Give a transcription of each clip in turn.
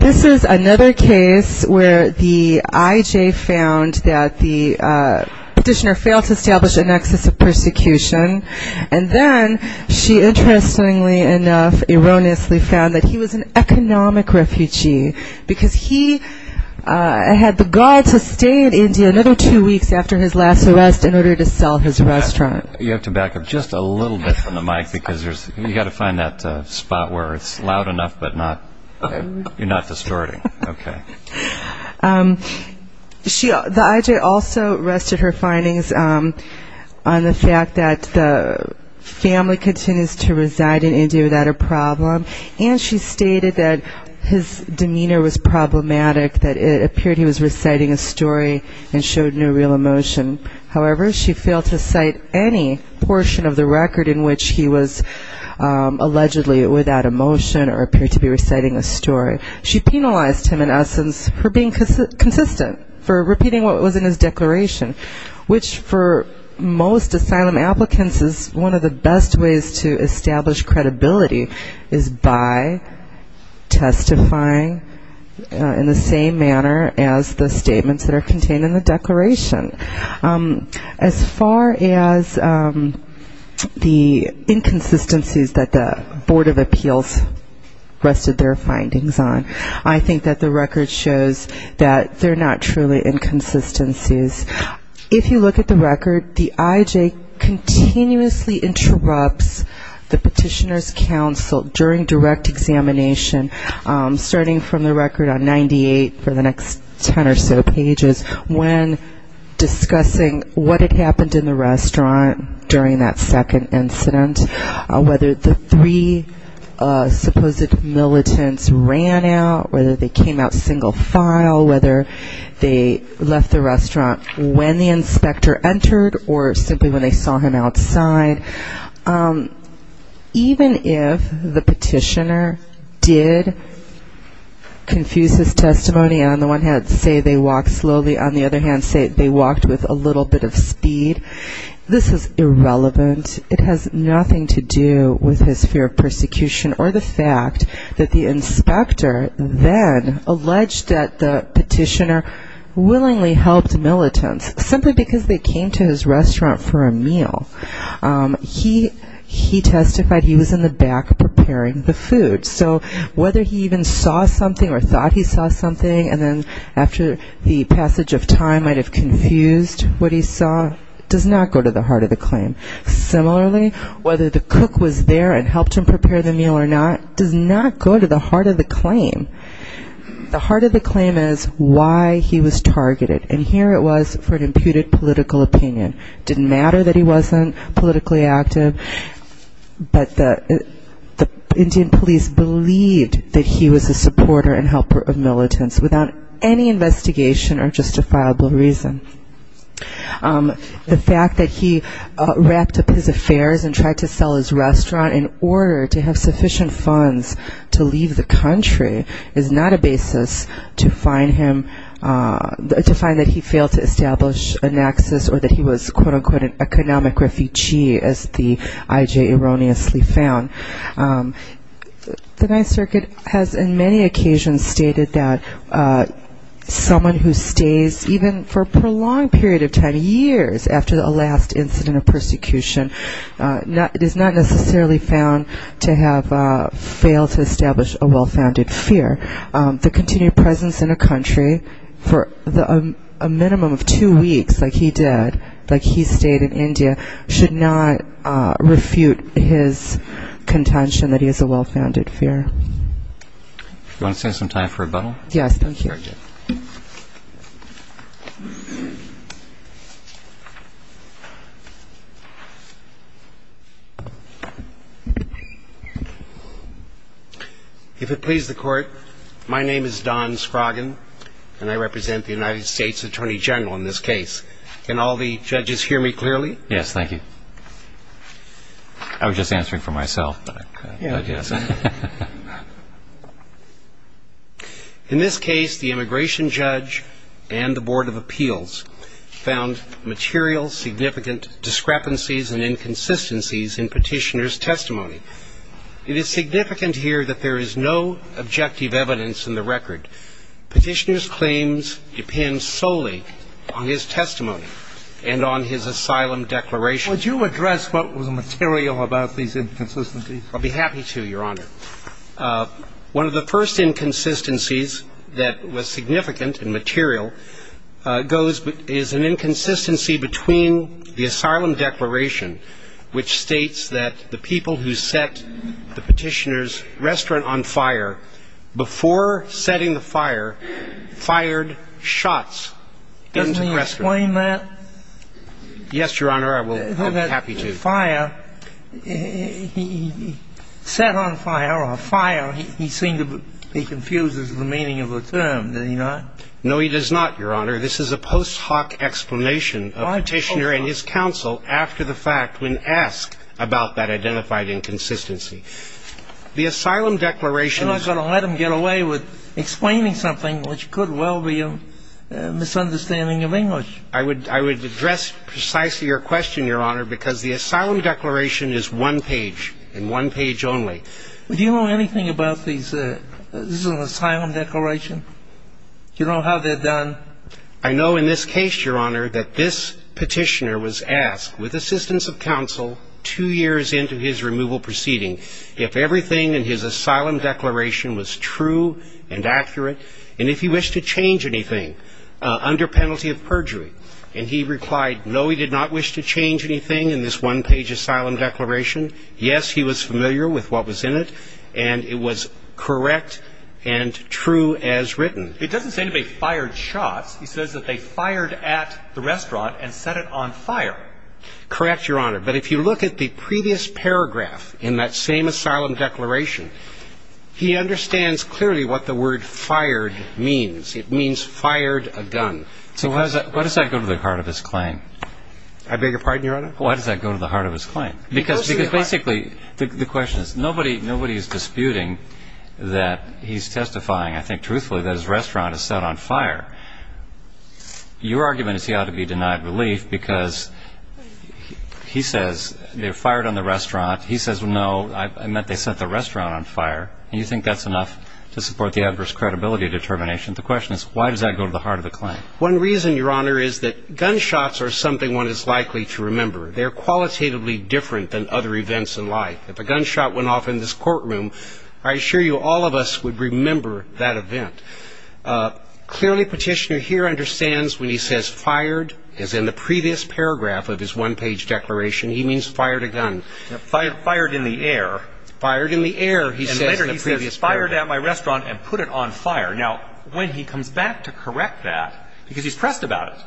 This is another case where the IJ found that the petitioner failed to establish a nexus of persecution and then she interestingly enough erroneously found that he was an economic refugee because he had the gall to stay in India another two weeks after his last arrest in order to sell his restaurant. The IJ also rested her findings on the fact that the family continues to reside in India without a problem and she stated that his demeanor was problematic, that it appeared he was reciting a story and showed no real emotion. However, she failed to cite any portion of the record in which he was allegedly without emotion or appeared to be reciting a story. She penalized him in essence for being consistent, for repeating what was in his declaration, which for most asylum applicants is one of the best ways to establish credibility is by testifying in the same manner as the statements that are contained in the declaration. As far as the inconsistencies that the Board of Appeals rested their findings on, I think that the record shows that they are not truly inconsistencies. If you look at the record, the IJ continuously interrupts the petitioner's counsel during direct examination, starting from the record on 98 for the next ten or so pages, when discussing what had happened in the restaurant during that second incident, whether the three supposed militants ran out, whether they came out single file, whether they left the restaurant when the inspector entered or simply when they saw him outside. Even if the petitioner did confuse his testimony, on the one hand say they walked slowly, on the other hand say they walked with a little bit of speed, this is irrelevant. It has nothing to do with his fear of persecution or the fact that the inspector then alleged that the petitioner willingly helped militants simply because they came to his restaurant for a meal. He testified he was in the back preparing the food. So whether he even saw something or thought he saw something and then after the passage of time might have confused what he saw does not go to the heart of the claim. Similarly, whether the cook was there and helped him prepare the meal or not does not go to the heart of the claim. The heart of the claim is why he was targeted. And here it was for an imputed political opinion. It didn't matter that he wasn't politically active, but the Indian police believed that he was a supporter and helper of militants without any investigation or justifiable reason. The fact that he wrapped up his affairs and tried to sell his restaurant in order to have sufficient funds to leave the country is not a basis to find him, to find that he failed to establish a naxus or that he was quote unquote an economic refugee as the IJ erroneously found. The Ninth Circuit has in many occasions stated that someone who stays even for a prolonged period of time, years after a last incident of persecution, it is not necessarily found to have failed to establish a well-founded fear. The continued presence in a country for a minimum of two weeks like he did, like he stayed in India, should not refute his contention that he has a well-founded fear. Do you want to stand some time for rebuttal? Yes, thank you. If it pleases the Court, my name is Don Scroggin and I represent the United States Attorney General in this case. Can all the judges hear me clearly? Yes, thank you. I was just answering for myself. In this case, the immigration judge and the Board of Appeals found material significant discrepancies and inconsistencies in Petitioner's testimony. It is significant here that there is no objective evidence in the record. Petitioner's claims depend solely on his testimony and on his asylum declaration. Would you address what was material about these inconsistencies? I'd be happy to, Your Honor. One of the first inconsistencies that was significant and material is an inconsistency between the asylum declaration, which states that the people who set the Petitioner's restaurant on fire, before setting the fire, fired shots into the restaurant. Can you explain that? Yes, Your Honor, I'd be happy to. He set on fire, or fire, he seems to be confused as to the meaning of the term, does he not? No, he does not, Your Honor. This is a post hoc explanation of Petitioner and his counsel after the fact, when asked about that identified inconsistency. The asylum declaration I'm not going to let him get away with explaining something, which could well be a misunderstanding of English. I would address precisely your question, Your Honor, because the asylum declaration is one page, and one page only. Do you know anything about these asylum declarations? Do you know how they're done? I know in this case, Your Honor, that this Petitioner was asked, with assistance of counsel, two years into his removal proceeding, if everything in his asylum declaration was true and accurate, and if he wished to change anything under penalty of perjury. And he replied, no, he did not wish to change anything in this one page asylum declaration. Yes, he was familiar with what was in it, and it was correct and true as written. It doesn't say anybody fired shots. He says that they fired at the restaurant and set it on fire. Correct, Your Honor. But if you look at the previous paragraph in that same asylum declaration, he understands clearly what the word fired means. It means fired a gun. So why does that go to the heart of his claim? I beg your pardon, Your Honor? Why does that go to the heart of his claim? Because basically, the question is, nobody is disputing that he's testifying, I think, truthfully, that his restaurant is set on fire. Your argument is he ought to be denied relief, because he says they fired on the restaurant. He says, no, I meant they set the restaurant on fire. And you think that's enough to support the adverse credibility determination. The question is, why does that go to the heart of the claim? One reason, Your Honor, is that gunshots are something one is likely to remember. They're qualitatively different than other events in life. If a gunshot went off in this courtroom, I assure you, all of us would remember that event. Clearly, Petitioner here understands when he says fired, as in the previous paragraph of his one-page declaration, he means fired a gun. Fired in the air. Fired in the air, he says in the previous paragraph. And later he says, fired at my restaurant and put it on fire. Now, when he comes back to correct that, because he's pressed about it,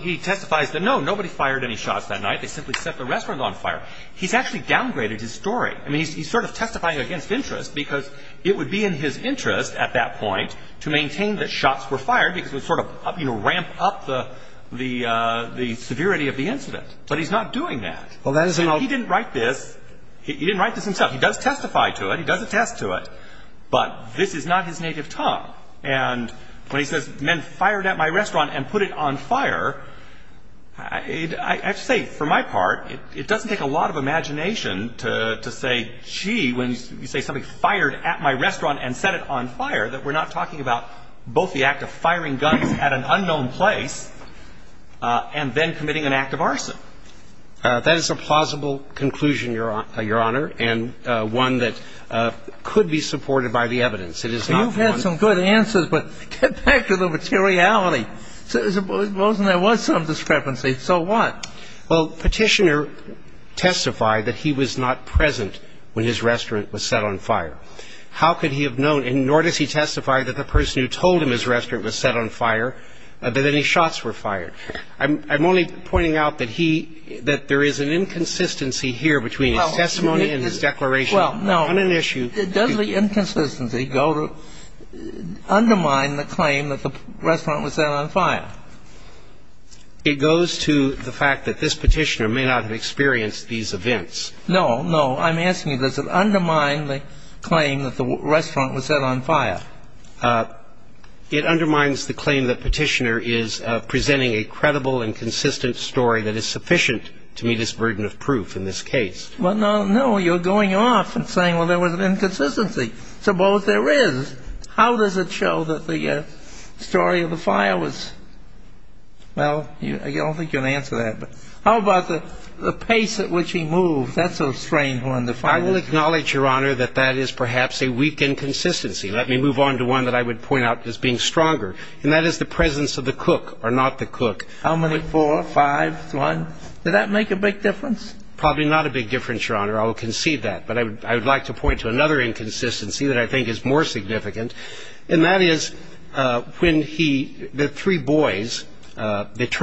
he testifies that, no, nobody fired any shots that night. They simply set the restaurant on fire. He's actually downgraded his story. I mean, he's sort of testifying against interest, because it would be in his interest at that point to maintain that shots were fired, because it would sort of ramp up the severity of the incident. But he's not doing that. He didn't write this. He didn't write this himself. He does testify to it. He does attest to it. But this is not his native tongue. And when he says men fired at my restaurant and put it on fire, I have to say, for my part, it doesn't take a lot of imagination to say, gee, when you say somebody fired at my restaurant and set it on fire, that we're not talking about both the act of firing guns at an unknown place and then committing an act of arson. That is a plausible conclusion, Your Honor, and one that could be supported by the evidence. It is not one of the ones that we're talking about. You've had some good answers, but get back to the materiality. Suppose there was some discrepancy. So what? Well, Petitioner testified that he was not present when his restaurant was set on fire. How could he have known? And nor does he testify that the person who told him his restaurant was set on fire, that any shots were fired. I'm only pointing out that he – that there is an inconsistency here between his testimony and his declaration on an issue. Well, no. Does the inconsistency undermine the claim that the restaurant was set on fire? It goes to the fact that this Petitioner may not have experienced these events. No, no. I'm asking you, does it undermine the claim that the restaurant was set on fire? It undermines the claim that Petitioner is presenting a credible and consistent story that is sufficient to meet his burden of proof in this case. Well, no, no. You're going off and saying, well, there was an inconsistency. Suppose there is. How does it show that the story of the fire was – well, I don't think you're going to answer that, but how about the pace at which he moved? That's a strange one. I will acknowledge, Your Honor, that that is perhaps a weak inconsistency. Let me move on to one that I would point out as being stronger, and that is the presence of the cook or not the cook. How many? Four? Five? One? Did that make a big difference? Probably not a big difference, Your Honor. I will concede that. But I would like to point to another inconsistency that I think is more significant, and that is when he – the three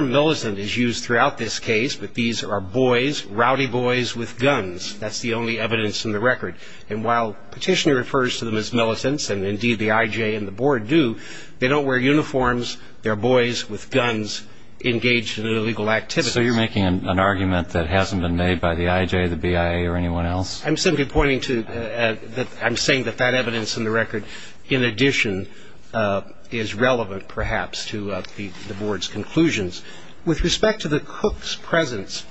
militant is used throughout this case, but these are boys, rowdy boys with guns. That's the only evidence in the record. And while Petitioner refers to them as militants, and indeed the IJ and the Board do, they don't wear uniforms. They're boys with guns engaged in illegal activities. So you're making an argument that hasn't been made by the IJ, the BIA, or anyone else? I'm simply pointing to – I'm saying that that evidence in the record, in addition, is relevant, perhaps, to the Board's conclusions. With respect to the cook's presence,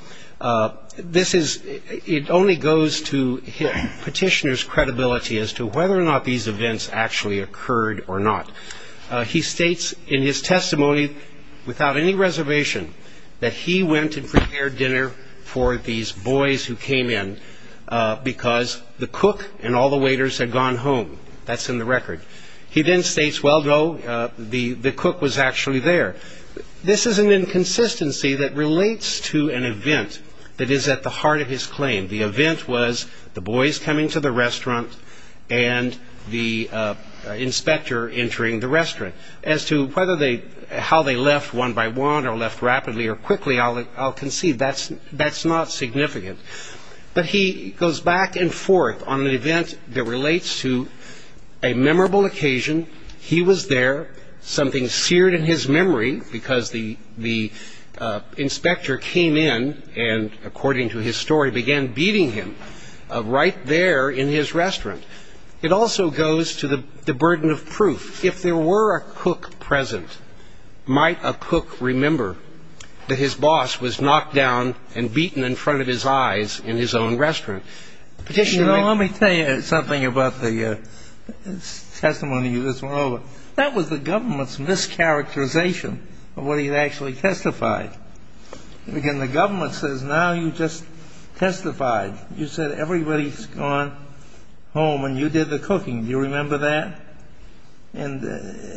this is – it only goes to Petitioner's credibility as to whether or not these events actually occurred or not. He states in his testimony without any reservation that he went and prepared dinner for these boys who came in because the cook and all the waiters had gone home. That's in the record. He then states, well, no, the cook was actually there. This is an inconsistency that relates to an event that is at the heart of his claim. The event was the boys coming to the restaurant and the inspector entering the restaurant. As to whether they – how they left one by one or left rapidly or quickly, I'll concede that's not significant. But he goes back and forth on an event that relates to a memorable occasion. He was there. Something seared in his memory because the inspector came in and, according to his story, began beating him right there in his restaurant. It also goes to the burden of proof. If there were a cook present, might a cook remember that his boss was knocked down and beaten in front of his eyes in his own restaurant? You know, let me tell you something about the testimony you just went over. That was the government's mischaracterization of what he had actually testified. Again, the government says now you just testified. You said everybody's gone home and you did the cooking. Do you remember that? And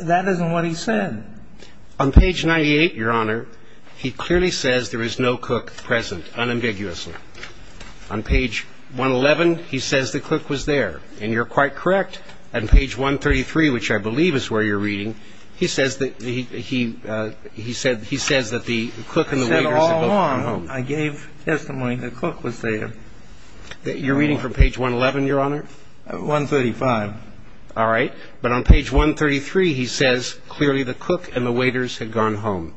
that isn't what he said. On page 98, Your Honor, he clearly says there is no cook present, unambiguously. On page 111, he says the cook was there. And you're quite correct. On page 133, which I believe is where you're reading, he says that the cook and the waitress had gone home. He said all along I gave testimony the cook was there. You're reading from page 111, Your Honor? 135. All right. But on page 133, he says clearly the cook and the waitress had gone home.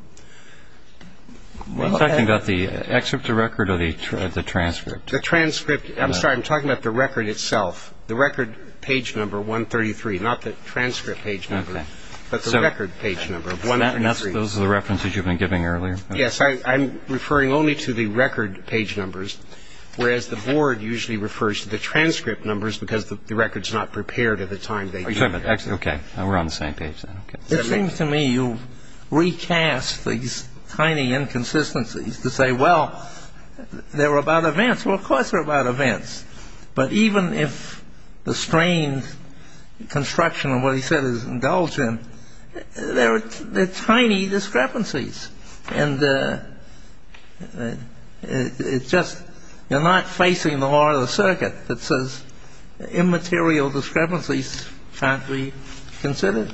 Are you talking about the excerpt of record or the transcript? The transcript. I'm sorry. I'm talking about the record itself. The record page number 133, not the transcript page number, but the record page number of 133. Those are the references you've been giving earlier? Yes. I'm referring only to the record page numbers, whereas the board usually refers to the transcript numbers because the record's not prepared at the time they came in. Okay. We're on the same page then. It seems to me you recast these tiny inconsistencies to say, well, they were about events. Well, of course they're about events. But even if the strained construction of what he said is indulgent, they're tiny discrepancies. And it's just you're not facing the heart of the circuit that says immaterial discrepancies can't be considered.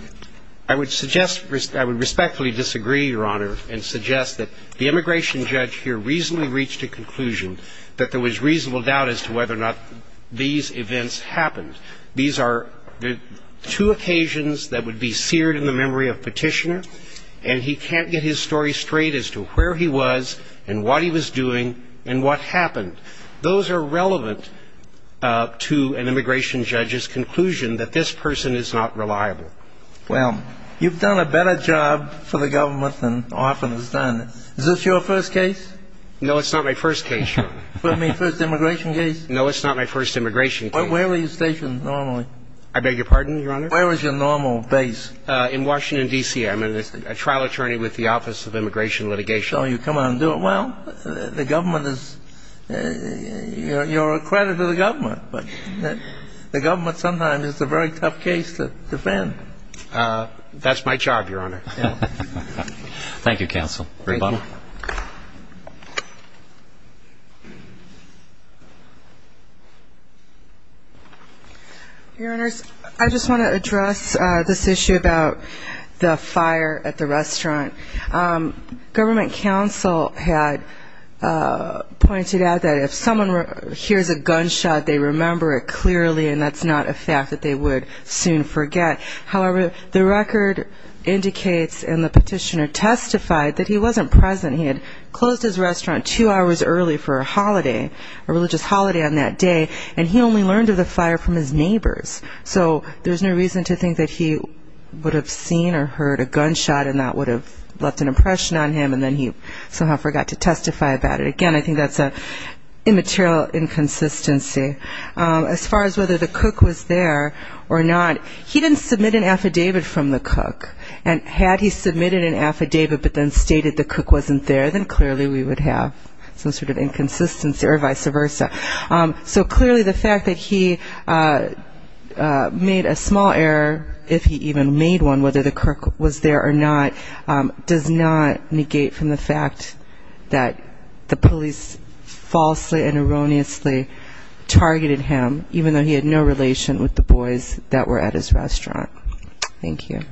I would suggest I would respectfully disagree, Your Honor, and suggest that the immigration judge here reasonably reached a conclusion that there was reasonable doubt as to whether or not these events happened. These are two occasions that would be seared in the memory of Petitioner, and he can't get his story straight as to where he was and what he was saying. He can't get to an immigration judge's conclusion that this person is not reliable. Well, you've done a better job for the government than often is done. Is this your first case? No, it's not my first case, Your Honor. You mean first immigration case? No, it's not my first immigration case. Where were you stationed normally? I beg your pardon, Your Honor? Where was your normal base? In Washington, D.C. I'm a trial attorney with the Office of Immigration Litigation. So you come out and do it well? The government is, you're a credit to the government, but the government sometimes is a very tough case to defend. That's my job, Your Honor. Thank you, counsel. Thank you. Rebuttal? Your Honors, I just want to address this issue about the fire at the restaurant. Government counsel had pointed out that if someone hears a gunshot, they remember it clearly and that's not a fact that they would soon forget. However, the record indicates and the petitioner testified that he wasn't present. He had closed his restaurant two hours early for a holiday, a religious holiday on that day, and he only learned of the fire from his neighbors. So there's no reason to think that he would have seen or heard a gunshot and that would have left an impression on him and then he somehow forgot to testify about it. Again, I think that's an immaterial inconsistency. As far as whether the cook was there or not, he didn't submit an affidavit from the cook. And had he submitted an affidavit but then stated the cook wasn't there, then clearly we would have some sort of inconsistency or vice versa. So clearly the fact that he made a small error, if he even made one, whether the cook was there or not, does not negate from the fact that the police falsely and erroneously targeted him, even though he had no relation with the boys that were at his restaurant. Thank you.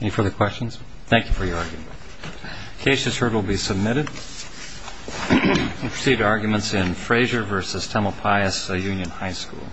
Any further questions? Thank you for your argument. The case is heard and will be submitted. We'll proceed to arguments in Fraser v. Temple Pius Union High School.